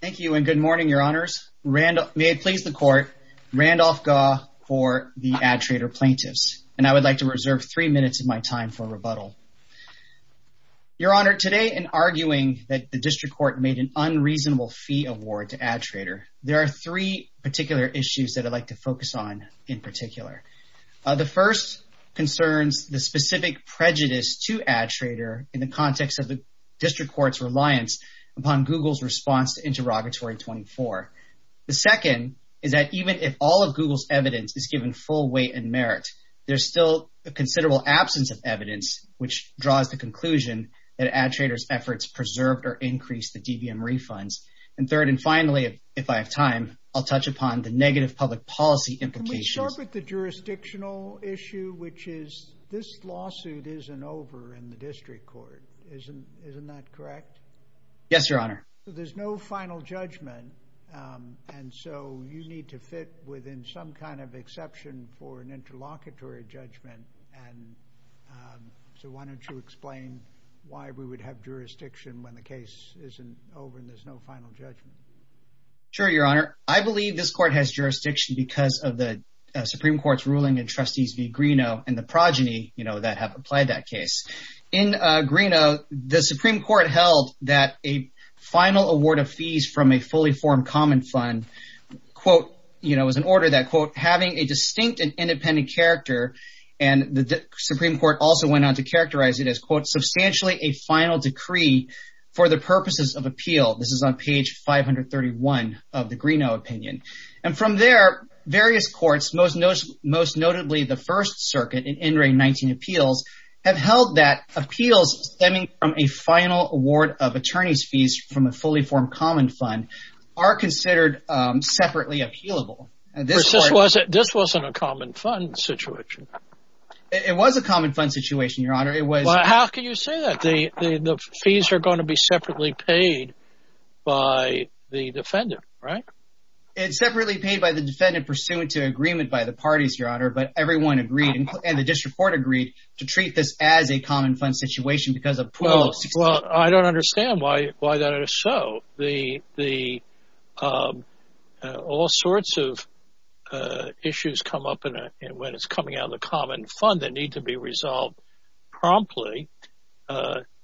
Thank you and good morning, Your Honors. May it please the Court, Randolph Gaugh for the AdTrader plaintiffs. And I would like to reserve three minutes of my time for rebuttal. Your Honor, today in arguing that the District Court made an unreasonable fee award to AdTrader, there are three particular issues that I'd like to focus on in particular. The first concerns the specific prejudice to AdTrader in the context of the District Court's reliance upon Google's response to Interrogatory 24. The second is that even if all of Google's evidence is given full weight and merit, there's still a considerable absence of evidence which draws the conclusion that AdTrader's efforts preserved or increased the DVM refunds. And third and finally, if I have time, I'll touch upon the negative public policy implications. I'll start with the jurisdictional issue, which is this lawsuit isn't over in the District Court. Isn't that correct? Yes, Your Honor. There's no final judgment. And so you need to fit within some kind of exception for an interlocutory judgment. And so why don't you explain why we would have jurisdiction when the case isn't over and there's no final judgment? Sure, Your Honor. I believe this court has jurisdiction because of the Supreme Court's ruling in Trustees v. Greenough and the progeny, you know, that have applied that case. In Greenough, the Supreme Court held that a final award of fees from a fully formed common fund, quote, you know, was an order that, quote, having a distinct and independent character, and the Supreme Court also went on to characterize it as, quote, substantially a final decree for the purposes of appeal. This is on page 531 of the Greenough opinion. And from there, various courts, most notably the First Circuit in NRA 19 appeals, have held that appeals stemming from a final award of attorney's fees from a fully formed common fund are considered separately appealable. This wasn't a common fund situation. It was a common fund situation, Your Honor. How can you say that? The fees are going to be separately paid by the defendant, right? It's separately paid by the defendant pursuant to agreement by the parties, Your Honor, but everyone agreed, and the district court agreed, to treat this as a common fund situation because of Well, I don't understand why that is so. All sorts of issues come up when it's coming out of the common fund that need to be resolved promptly,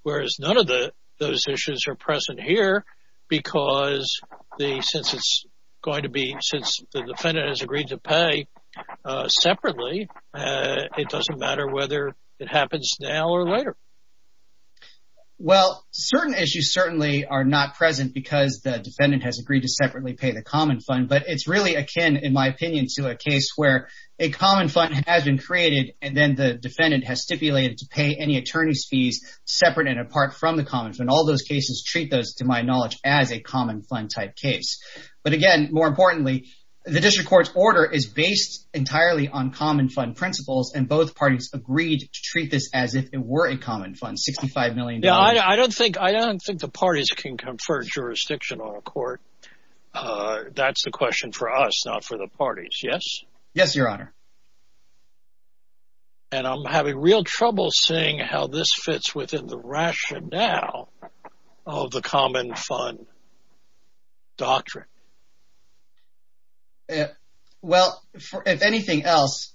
whereas none of those issues are present here because since the defendant has agreed to pay separately, it doesn't matter whether it happens now or later. Well, certain issues certainly are not present because the defendant has agreed to separately pay the common fund, but it's really akin, in my opinion, to a case where a common fund has been created, and then the defendant has stipulated to pay any attorney's fees separate and apart from the common fund. All those cases treat those, to my knowledge, as a common fund type case. But again, more importantly, the district court's order is based entirely on common fund principles, and both parties agreed to treat this as if it were a common fund, $65 million. I don't think the parties can confer jurisdiction on a court. That's a question for us, not for the parties. Yes? Yes, Your Honor. And I'm having real trouble seeing how this fits within the rationale of the common fund doctrine. Well, if anything else,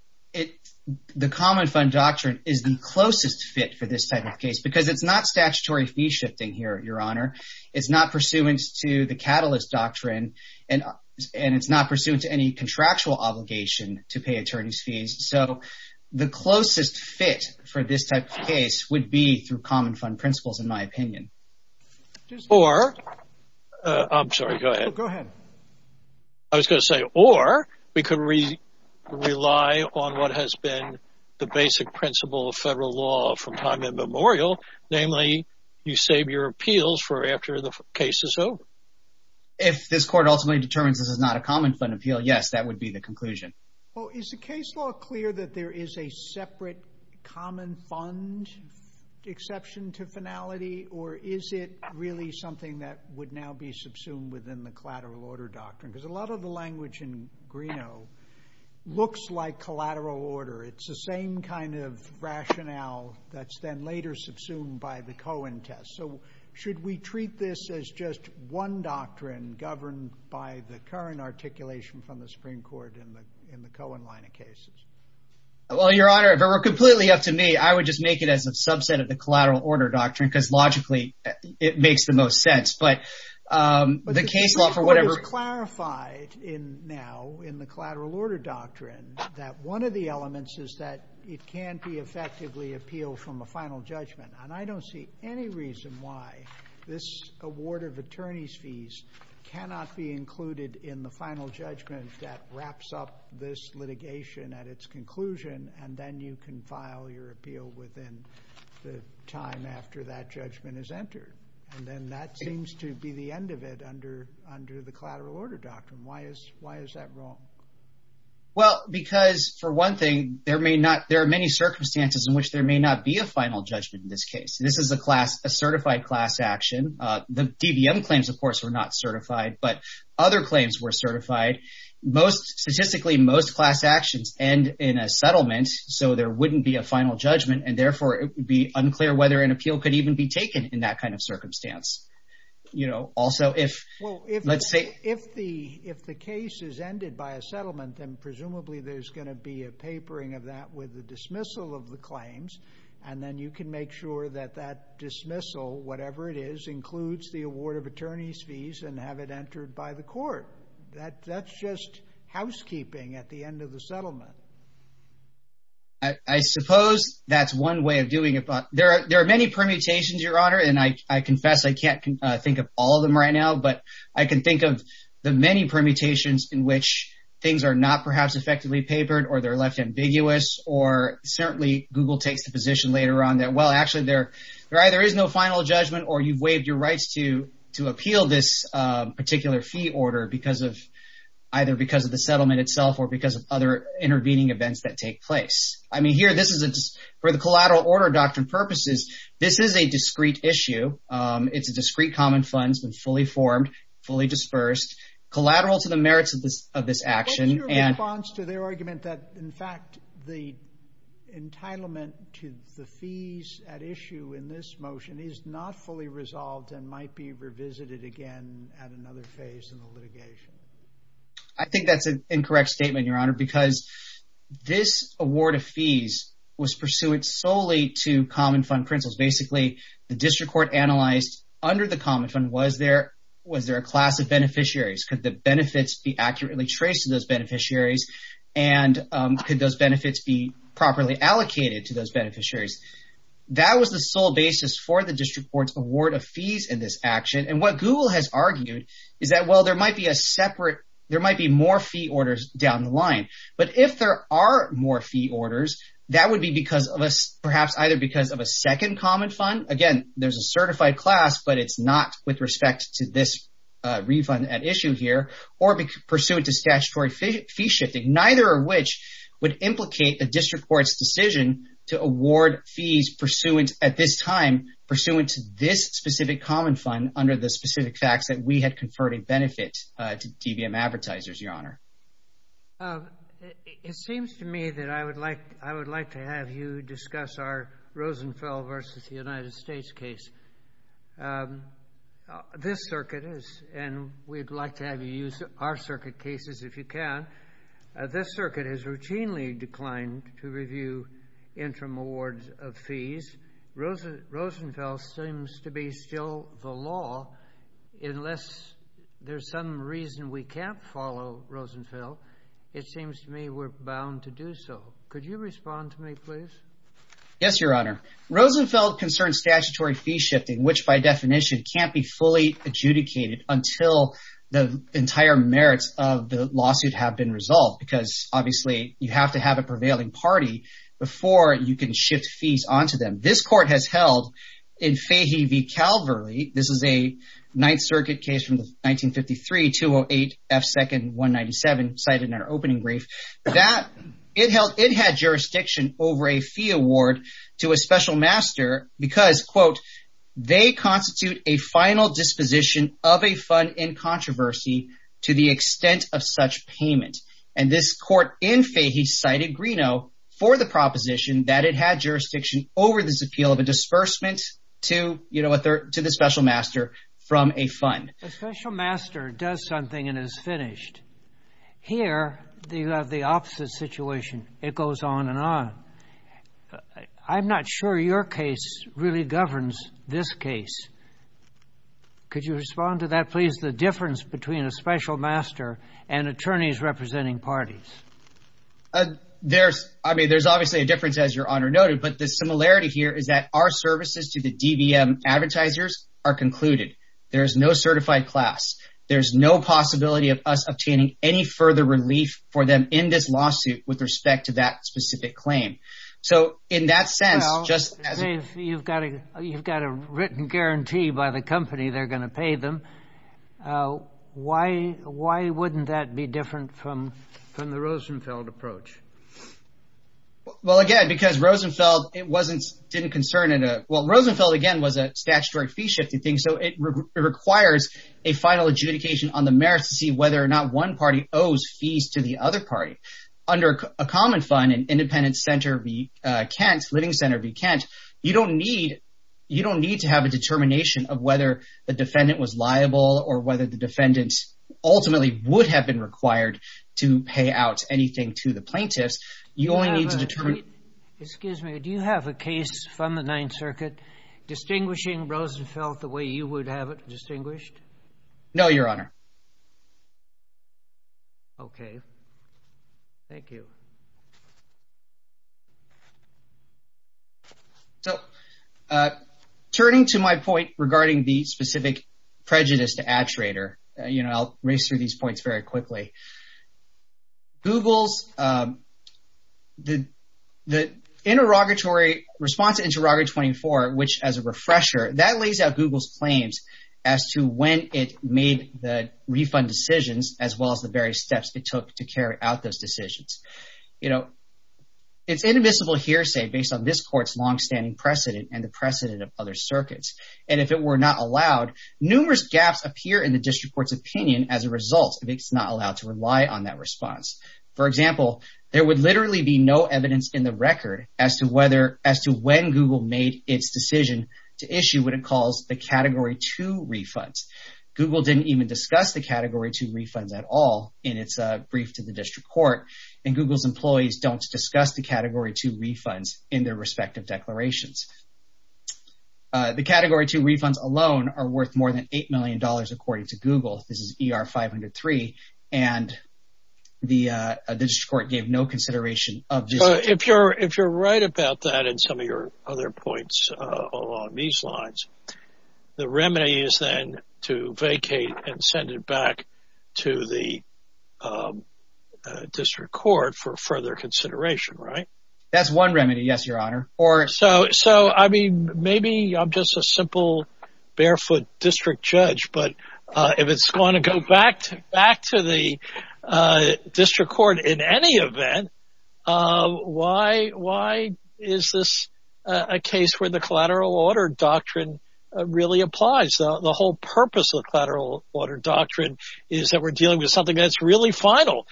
the common fund doctrine is the closest fit for this type of case because it's not statutory fee shifting here, Your Honor. It's not pursuant to the catalyst doctrine, and it's not pursuant to any contractual obligation to pay attorney's fees. So the closest fit for this type of case would be through common fund principles, in my opinion. Or, I'm sorry, go ahead. Go ahead. I was going to say, or we could rely on what has been the basic principle of federal law from time immemorial, namely, you save your appeals for after the case is over. If this court ultimately determines this is not a common fund appeal, yes, that would be the conclusion. Well, is the case law clear that there is a separate common fund exception to finality, or is it really something that would now be subsumed within the collateral order doctrine? Because a lot of the language in Greeno looks like collateral order. It's the same kind of rationale that's then later subsumed by the Cohen test. So should we treat this as just one doctrine governed by the current articulation from the Supreme Court in the Cohen line of cases? Well, Your Honor, if it were completely up to me, I would just make it as a subset of the collateral order doctrine, because logically it makes the most sense. But the case law for whatever— But the Supreme Court has clarified now in the collateral order doctrine that one of the elements is that it can't be effectively appealed from a final judgment. And I don't see any reason why this award of attorney's fees cannot be included in the final judgment that wraps up this litigation at its conclusion, and then you can file your appeal within the time after that judgment is entered. And then that seems to be the end of it under the collateral order doctrine. Why is that wrong? Well, because for one thing, there are many circumstances in which there may not be a final judgment in this case. This is a class—a certified class action. The DVM claims, of course, were not certified, but other claims were certified. Statistically, most class actions end in a settlement, so there wouldn't be a final judgment, and therefore it would be unclear whether an appeal could even be taken in that kind of circumstance. Also, if— Well, if the case is ended by a settlement, then presumably there's going to be a papering of that with the dismissal of the claims, and then you can make sure that that dismissal, whatever it is, includes the award of attorney's fees and have it entered by the court. That's just housekeeping at the end of the settlement. I suppose that's one way of doing it, but there are many permutations, Your Honor, and I confess I can't think of all of them right now, but I can think of the many permutations in which things are not perhaps effectively papered or they're left ambiguous or certainly Google takes the position later on that, well, actually, there either is no final judgment or you've waived your rights to appeal this particular fee order either because of the settlement itself or because of other intervening events that take place. I mean, here, for the collateral order doctrine purposes, this is a discrete issue. It's a discrete common fund. It's been fully formed, fully dispersed, collateral to the merits of this action. What's your response to their argument that, in fact, the entitlement to the fees at issue in this motion is not fully resolved and might be revisited again at another phase in the litigation? I think that's an incorrect statement, Your Honor, because this award of fees was pursuant solely to common fund principles. Basically, the district court analyzed under the common fund was there a class of beneficiaries? Could the benefits be accurately traced to those beneficiaries and could those benefits be properly allocated to those beneficiaries? That was the sole basis for the district court's award of fees in this action, and what Google has argued is that, well, there might be more fee orders down the line, but if there are more fee orders, that would be perhaps either because of a second common fund. Again, there's a certified class, but it's not with respect to this refund at issue here or pursuant to statutory fee shifting, neither of which would implicate a district court's decision to award fees pursuant, at this time, pursuant to this specific common fund under the specific facts that we had conferred a benefit to DVM advertisers, Your Honor. It seems to me that I would like to have you discuss our Rosenfeld versus the United States case. This circuit is, and we'd like to have you use our circuit cases if you can, but this circuit has routinely declined to review interim awards of fees. Rosenfeld seems to be still the law. Unless there's some reason we can't follow Rosenfeld, it seems to me we're bound to do so. Could you respond to me, please? Yes, Your Honor. Rosenfeld concerns statutory fee shifting, which, by definition, can't be fully adjudicated until the entire merits of the lawsuit have been resolved because, obviously, you have to have a prevailing party before you can shift fees onto them. This court has held in Fahey v. Calverley, this is a Ninth Circuit case from 1953, 208 F. 2nd 197, cited in our opening brief, that it had jurisdiction over a fee award to a special master because, quote, they constitute a final disposition of a fund in controversy to the extent of such payment. And this court in Fahey cited Greeno for the proposition that it had jurisdiction over this appeal of a disbursement to the special master from a fund. A special master does something and is finished. Here, you have the opposite situation. It goes on and on. I'm not sure your case really governs this case. Could you respond to that, please, the difference between a special master and attorneys representing parties? There's, I mean, there's obviously a difference, as Your Honor noted, but the similarity here is that our services to the DVM advertisers are concluded. There is no certified class. There's no possibility of us obtaining any further relief for them in this lawsuit with respect to that specific claim. So in that sense, just as— Well, you've got a written guarantee by the company they're going to pay them. Why wouldn't that be different from the Rosenfeld approach? Well, again, because Rosenfeld, it wasn't—didn't concern in a—well, Rosenfeld, again, was a statutory fee-shifting thing, so it requires a final adjudication on the merits to see whether or not one party owes fees to the other party. Under a common fund, an independent center be—can't—living center be—can't. You don't need—you don't need to have a determination of whether the defendant was liable or whether the defendant ultimately would have been required to pay out anything to the plaintiffs. You only need to determine— Excuse me. Do you have a case from the Ninth Circuit distinguishing Rosenfeld the way you would have it distinguished? No, Your Honor. Okay. Thank you. So turning to my point regarding the specific prejudice to Attrator, you know, I'll race through these points very quickly. Google's—the interrogatory—response to Interrogatory 24, which, as a refresher, that lays out Google's claims as to when it made the refund decisions as well as the various steps it took to carry out those decisions. You know, it's inadmissible hearsay based on this court's longstanding precedent and the precedent of other circuits. And if it were not allowed, numerous gaps appear in the district court's opinion as a result if it's not allowed to rely on that response. For example, there would literally be no evidence in the record as to whether—as to when Google made its decision to issue what it calls the Category 2 refunds. Google didn't even discuss the Category 2 refunds at all in its brief to the district court, and Google's employees don't discuss the Category 2 refunds in their respective declarations. The Category 2 refunds alone are worth more than $8 million, according to Google. This is ER 503, and the district court gave no consideration of this. If you're right about that and some of your other points along these lines, the remedy is then to vacate and send it back to the district court for further consideration, right? That's one remedy, yes, Your Honor. So, I mean, maybe I'm just a simple barefoot district judge, but if it's going to go back to the district court in any event, why is this a case where the collateral order doctrine really applies? The whole purpose of collateral order doctrine is that we're dealing with something that's really final.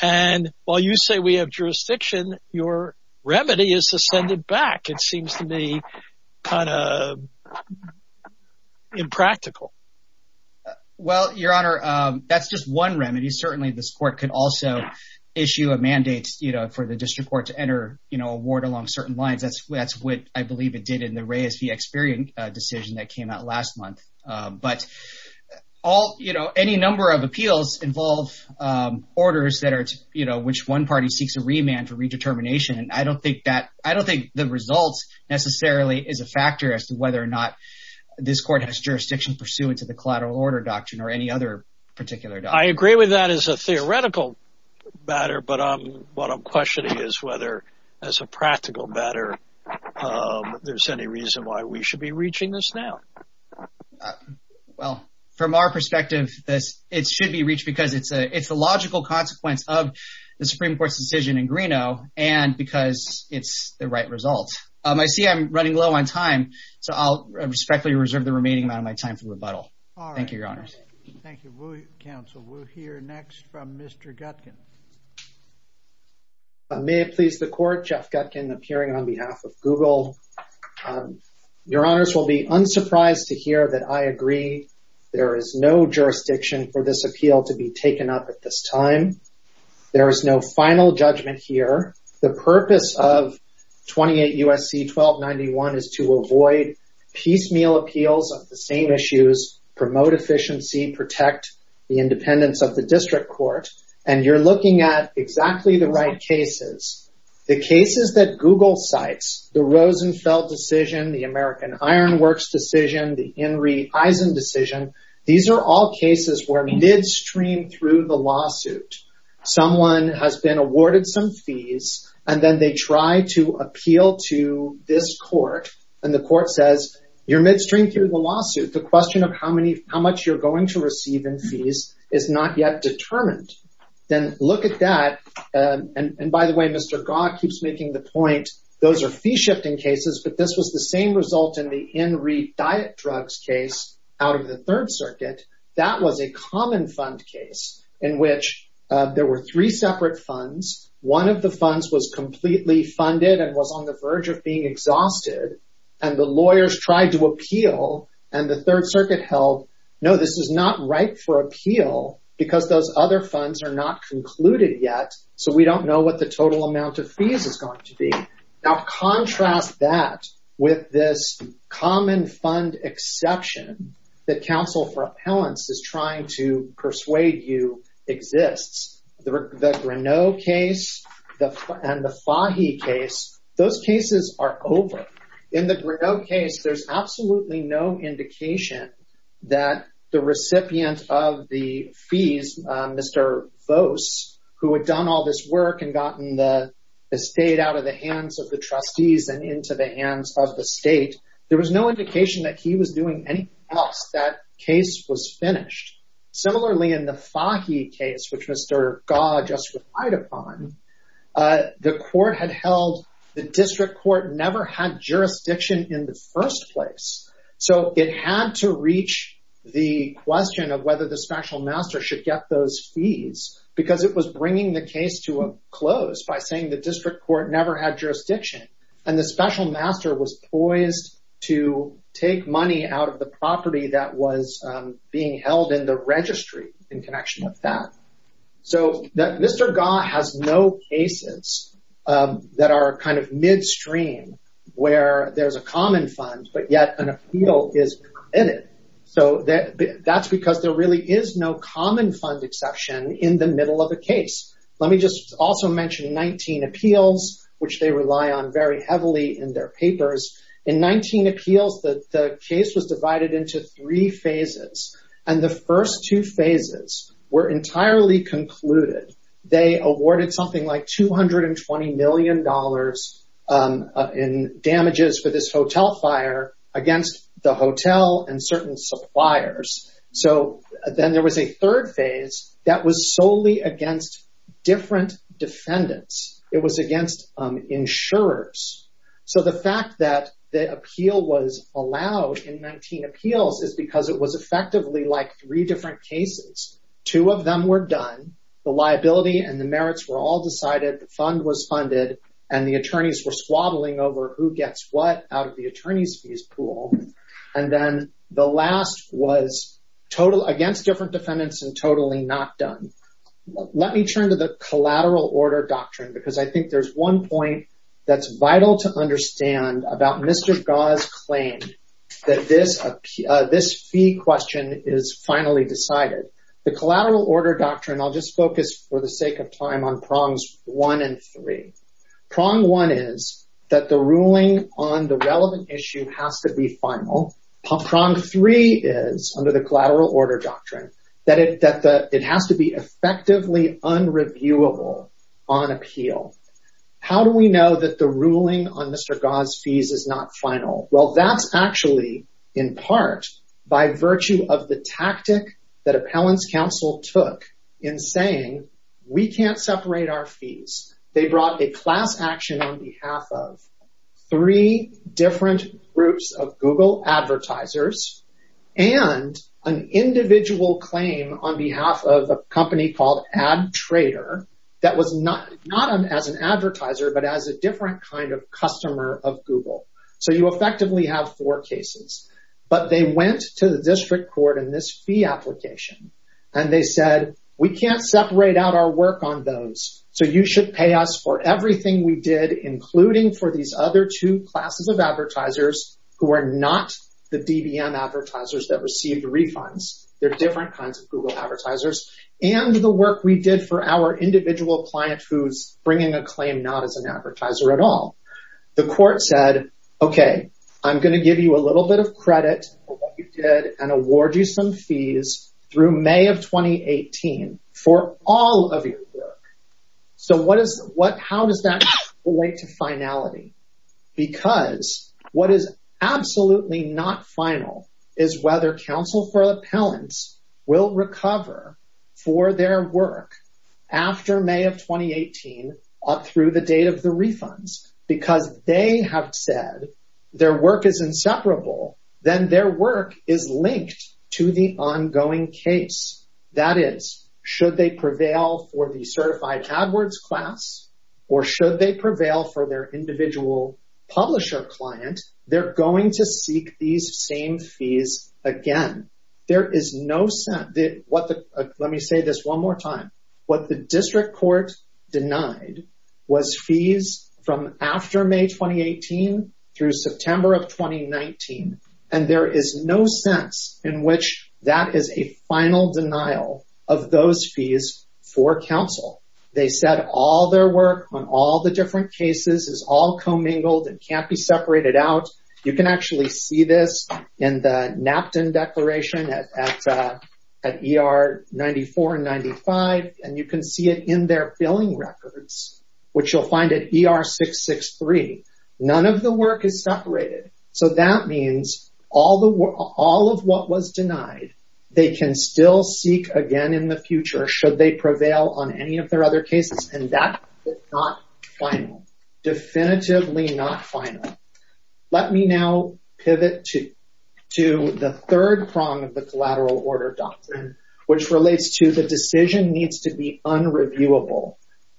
And while you say we have jurisdiction, your remedy is to send it back. It seems to me kind of impractical. Well, Your Honor, that's just one remedy. Certainly, this court could also issue a mandate for the district court to enter a ward along certain lines. That's what I believe it did in the Reyes v. Experian decision that came out last month. But any number of appeals involve orders which one party seeks a remand for redetermination. I don't think the results necessarily is a factor as to whether or not this court has jurisdiction pursuant to the collateral order doctrine or any other particular doctrine. I agree with that as a theoretical matter. But what I'm questioning is whether, as a practical matter, there's any reason why we should be reaching this now. Well, from our perspective, it should be reached because it's a logical consequence of the Supreme Court's decision in Greeno and because it's the right result. I see I'm running low on time, so I'll respectfully reserve the remaining amount of my time for rebuttal. Thank you, Your Honors. Thank you, Counsel. We'll hear next from Mr. Gutkin. May it please the Court, Jeff Gutkin, appearing on behalf of Google. Your Honors will be unsurprised to hear that I agree there is no jurisdiction for this appeal to be taken up at this time. There is no final judgment here. The purpose of 28 U.S.C. 1291 is to avoid piecemeal appeals of the same issues, promote efficiency, protect the independence of the district court. And you're looking at exactly the right cases. The cases that Google cites, the Rosenfeld decision, the American Iron Works decision, the Henry Eisen decision, these are all cases where midstream through the lawsuit. Someone has been awarded some fees, and then they try to appeal to this court. And the court says, you're midstream through the lawsuit. The question of how much you're going to receive in fees is not yet determined. Then look at that. And by the way, Mr. Gott keeps making the point those are fee-shifting cases. But this was the same result in the In Re Diet Drugs case out of the Third Circuit. That was a common fund case in which there were three separate funds. One of the funds was completely funded and was on the verge of being exhausted. And the lawyers tried to appeal. And the Third Circuit held, no, this is not right for appeal because those other funds are not concluded yet. So we don't know what the total amount of fees is going to be. Now contrast that with this common fund exception that counsel for appellants is trying to persuade you exists. The Greneau case and the Fahy case, those cases are over. In the Greneau case, there's absolutely no indication that the recipient of the fees, Mr. Vose, who had done all this work and gotten the estate out of the hands of the trustees and into the hands of the state, there was no indication that he was doing anything else. That case was finished. Similarly, in the Fahy case, which Mr. Gott just relied upon, the court had held the district court never had jurisdiction in the first place. So it had to reach the question of whether the special master should get those fees because it was bringing the case to a close by saying the district court never had jurisdiction. And the special master was poised to take money out of the property that was being held in the registry in connection with that. So Mr. Gott has no cases that are kind of midstream where there's a common fund, but yet an appeal is in it. So that's because there really is no common fund exception in the middle of a case. Let me just also mention 19 appeals, which they rely on very heavily in their papers. In 19 appeals, the case was divided into three phases. And the first two phases were entirely concluded. They awarded something like $220 million in damages for this hotel fire against the hotel and certain suppliers. So then there was a third phase that was solely against different defendants. It was against insurers. So the fact that the appeal was allowed in 19 appeals is because it was effectively like three different cases. Two of them were done, the liability and the merits were all decided, the fund was funded, and the attorneys were squabbling over who gets what out of the attorney's fees pool. And then the last was against different defendants and totally not done. Let me turn to the collateral order doctrine because I think there's one point that's vital to understand about Mr. Gott's claim that this fee question is finally decided. The collateral order doctrine, I'll just focus for the sake of time on prongs one and three. Prong one is that the ruling on the relevant issue has to be final. Prong three is, under the collateral order doctrine, that it has to be effectively unreviewable on appeal. How do we know that the ruling on Mr. Gott's fees is not final? Well, that's actually in part by virtue of the tactic that appellants counsel took in saying we can't separate our fees. They brought a class action on behalf of three different groups of Google advertisers and an individual claim on behalf of a company called Ad Trader that was not as an advertiser but as a different kind of customer of Google. So you effectively have four cases. But they went to the district court in this fee application and they said, we can't separate out our work on those, so you should pay us for everything we did, including for these other two classes of advertisers who are not the DBM advertisers that received refunds. They're different kinds of Google advertisers. And the work we did for our individual client who's bringing a claim not as an advertiser at all. The court said, okay, I'm going to give you a little bit of credit for what you did and award you some fees through May of 2018 for all of your work. So how does that relate to finality? Because what is absolutely not final is whether counsel for appellants will recover for their work after May of 2018 up through the date of the refunds. Because they have said their work is inseparable, then their work is linked to the ongoing case. That is, should they prevail for the certified AdWords class or should they prevail for their individual publisher client, they're going to seek these same fees again. Let me say this one more time. What the district court denied was fees from after May 2018 through September of 2019. And there is no sense in which that is a final denial of those fees for counsel. They said all their work on all the different cases is all commingled and can't be separated out. You can actually see this in the Napton Declaration at ER 94 and 95, and you can see it in their billing records, which you'll find at ER 663. None of the work is separated. So that means all of what was denied they can still seek again in the future should they prevail on any of their other cases, and that is not final, definitively not final. Let me now pivot to the third prong of the collateral order doctrine, which relates to the decision needs to be unreviewable.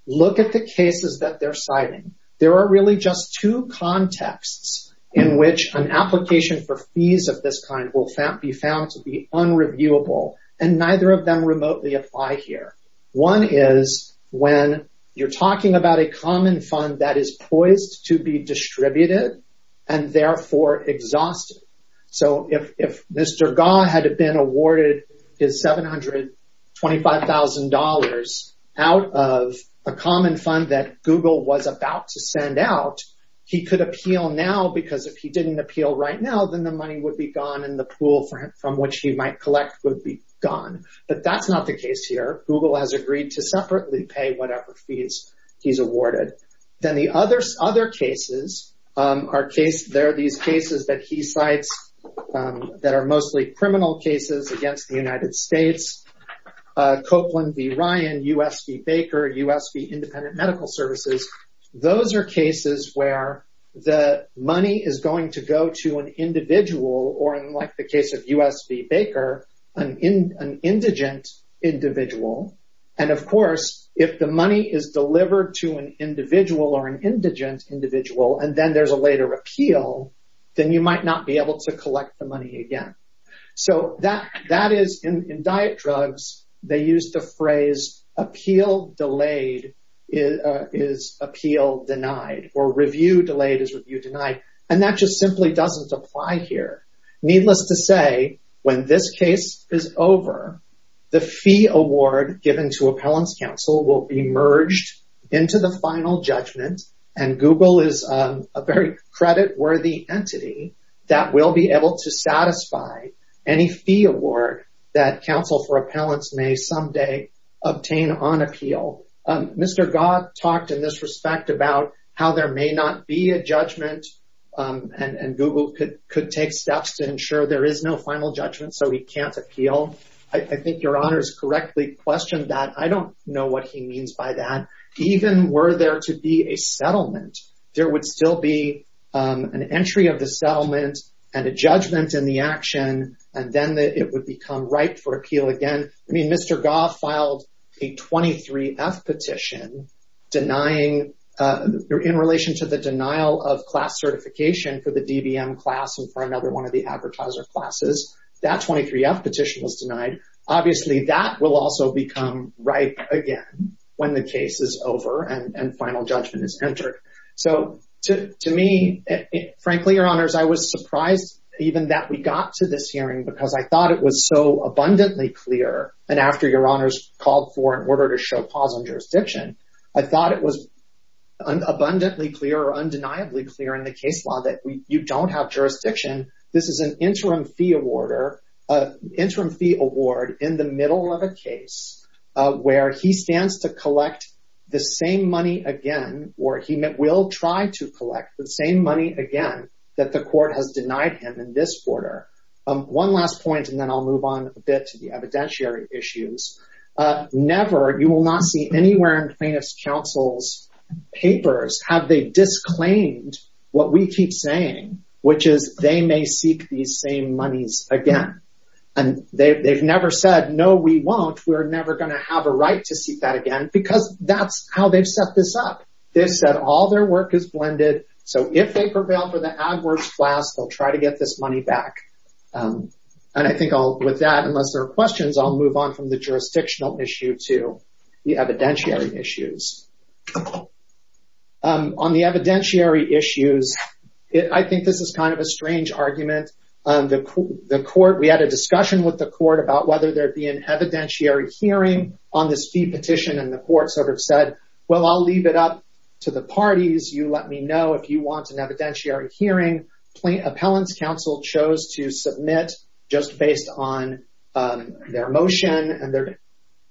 Look at the cases that they're citing. There are really just two contexts in which an application for fees of this kind will be found to be unreviewable, and neither of them remotely apply here. One is when you're talking about a common fund that is poised to be distributed and therefore exhausted. So if Mr. Gaugh had been awarded his $725,000 out of a common fund that Google was about to send out, he could appeal now because if he didn't appeal right now, then the money would be gone and the pool from which he might collect would be gone. But that's not the case here. Google has agreed to separately pay whatever fees he's awarded. Then the other cases are these cases that he cites that are mostly criminal cases against the United States, Copeland v. Ryan, U.S. v. Baker, U.S. v. Independent Medical Services. Those are cases where the money is going to go to an individual, or in the case of U.S. v. Baker, an indigent individual. And of course, if the money is delivered to an individual or an indigent individual, and then there's a later appeal, then you might not be able to collect the money again. So that is, in diet drugs, they use the phrase, appeal delayed is appeal denied, or review delayed is review denied. And that just simply doesn't apply here. Needless to say, when this case is over, the fee award given to appellants counsel will be merged into the final judgment, and Google is a very creditworthy entity that will be able to satisfy any fee award that counsel for appellants may someday obtain on appeal. Mr. Gott talked in this respect about how there may not be a judgment, and Google could take steps to ensure there is no final judgment so he can't appeal. I think your honors correctly questioned that. I don't know what he means by that. Even were there to be a settlement, there would still be an entry of the settlement and a judgment in the action, and then it would become ripe for appeal again. I mean, Mr. Gott filed a 23-F petition denying, in relation to the denial of class certification for the DBM class and for another one of the advertiser classes. That 23-F petition was denied. Obviously, that will also become ripe again when the case is over and final judgment is entered. To me, frankly, your honors, I was surprised even that we got to this hearing because I thought it was so abundantly clear, and after your honors called for an order to show pause on jurisdiction, I thought it was abundantly clear or undeniably clear in the case law that you don't have jurisdiction. This is an interim fee award in the middle of a case where he stands to collect the same money again or he will try to collect the same money again that the court has denied him in this order. One last point, and then I'll move on a bit to the evidentiary issues. Never, you will not see anywhere in plaintiff's counsel's papers have they disclaimed what we keep saying, which is they may seek these same monies again. They've never said, no, we won't. We're never going to have a right to seek that again because that's how they've set this up. They've said all their work is blended, so if they prevail for the AdWords class, they'll try to get this money back. And I think with that, unless there are questions, I'll move on from the jurisdictional issue to the evidentiary issues. On the evidentiary issues, I think this is kind of a strange argument. We had a discussion with the court about whether there'd be an evidentiary hearing on this fee petition, and the court sort of said, well, I'll leave it up to the parties. You let me know if you want an evidentiary hearing. Appellant's counsel chose to submit just based on their motion and their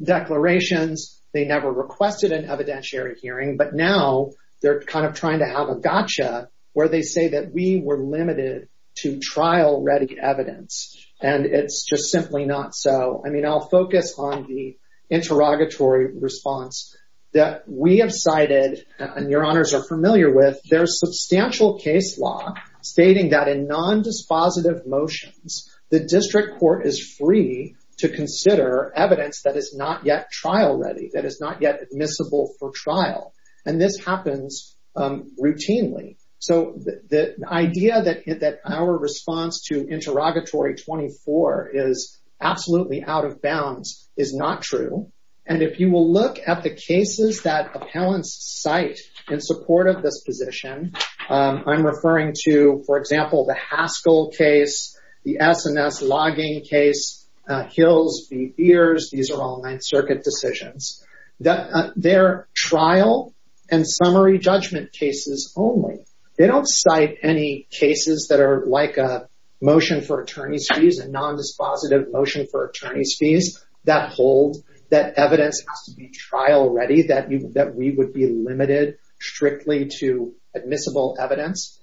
declarations. They never requested an evidentiary hearing, but now they're kind of trying to have a gotcha where they say that we were limited to trial-ready evidence, and it's just simply not so. I mean, I'll focus on the interrogatory response that we have cited and your honors are familiar with. There's substantial case law stating that in nondispositive motions, the district court is free to consider evidence that is not yet trial-ready, that is not yet admissible for trial, and this happens routinely. So the idea that our response to interrogatory 24 is absolutely out of bounds is not true, and if you will look at the cases that appellants cite in support of this position, I'm referring to, for example, the Haskell case, the S&S logging case, Hills v. Ears, these are all Ninth Circuit decisions, they're trial and summary judgment cases only. They don't cite any cases that are like a motion for attorney's fees, a nondispositive motion for attorney's fees that hold that evidence has to be trial-ready, that we would be limited strictly to admissible evidence.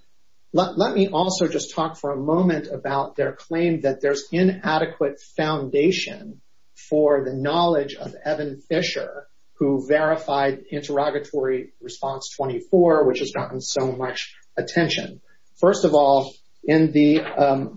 Let me also just talk for a moment about their claim that there's inadequate foundation for the knowledge of Evan Fisher, who verified interrogatory response 24, which has gotten so much attention. First of all, in the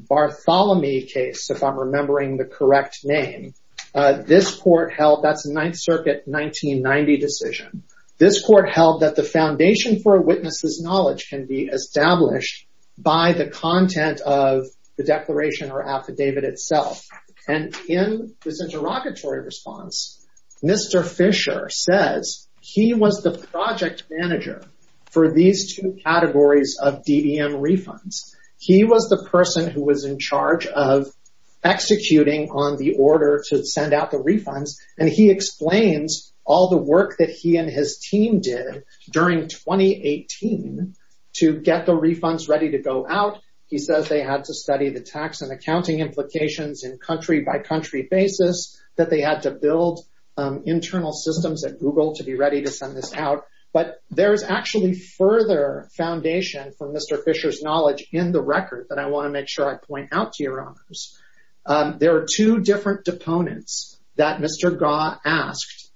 Bartholomew case, if I'm remembering the correct name, this court held, that's a Ninth Circuit 1990 decision, this court held that the foundation for a witness's knowledge can be established by the content of the declaration or affidavit itself, and in this interrogatory response, Mr. Fisher says he was the project manager for these two categories of DBM refunds. He was the person who was in charge of executing on the order to send out the refunds, and he explains all the work that he and his team did during 2018 to get the refunds ready to go out. He says they had to study the tax and accounting implications in country-by-country basis, that they had to build internal systems at Google to be ready to send this out, but there's actually further foundation for Mr. Fisher's knowledge in the record that I want to make sure I point out to your honors. There are two different deponents that Mr. Gaw asked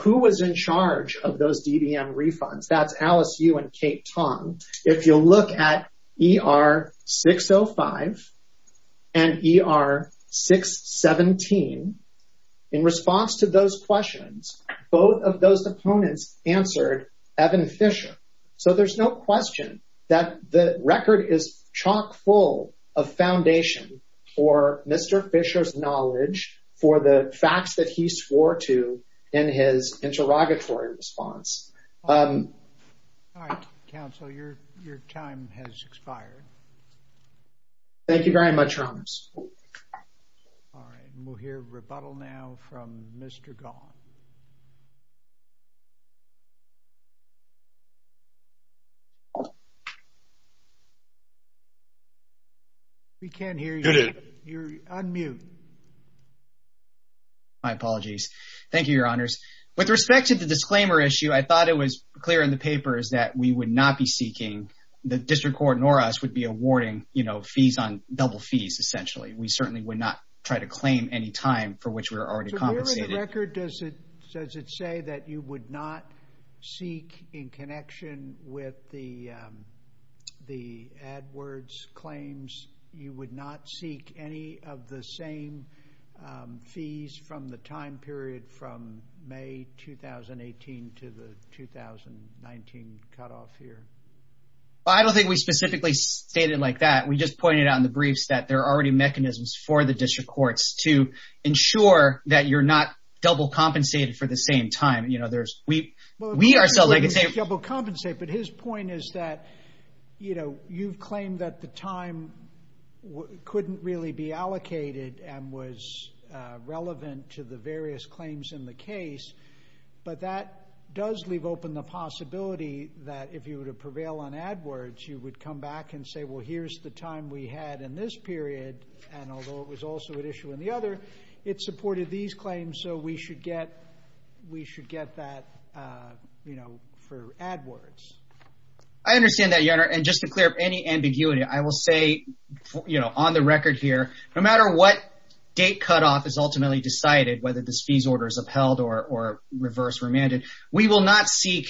who was in charge of those DBM refunds. That's Alice Yu and Kate Tong. If you look at ER 605 and ER 617, in response to those questions, both of those deponents answered Evan Fisher, so there's no question that the record is chock full of foundation for Mr. Fisher's knowledge for the facts that he swore to in his interrogatory response. All right, counsel, your time has expired. Thank you very much, your honors. All right, and we'll hear rebuttal now from Mr. Gaw. We can't hear you. You're on mute. My apologies. Thank you, your honors. With respect to the disclaimer issue, I thought it was clear in the papers that we would not be seeking, the district court nor us would be awarding, you know, fees on double fees, essentially. We certainly would not try to claim any time for which we were already compensated. Where in the record does it say that you would not seek, in connection with the AdWords claims, you would not seek any of the same fees from the time period from May 2018 to the 2019 cutoff here? I don't think we specifically stated like that. We just pointed out in the briefs that there are already mechanisms for the district courts to ensure that you're not double compensated for the same time. You know, there's, we, we are so like, double compensated. But his point is that, you know, you've claimed that the time couldn't really be allocated and was relevant to the various claims in the case. But that does leave open the possibility that if you were to prevail on AdWords, you would come back and say, well, here's the time we had in this period. And although it was also an issue in the other, it supported these claims. So we should get, we should get that, you know, for AdWords. I understand that, Your Honor. And just to clear up any ambiguity, I will say, you know, on the record here, no matter what date cutoff is ultimately decided, whether this fees order is upheld or reverse remanded, we will not seek,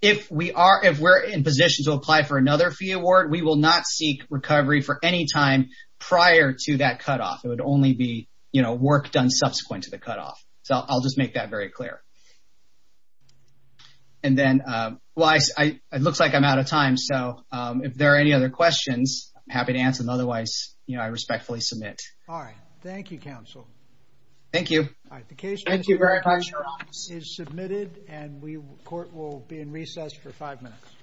if we are, if we're in position to apply for another fee award, we will not seek recovery for any time prior to that cutoff. It would only be, you know, work done subsequent to the cutoff. So I'll just make that very clear. And then, well, I, it looks like I'm out of time. So if there are any other questions, I'm happy to answer them. Otherwise, you know, I respectfully submit. All right. Thank you, counsel. Thank you. All right. The case is submitted and we, court will be in recess for five minutes.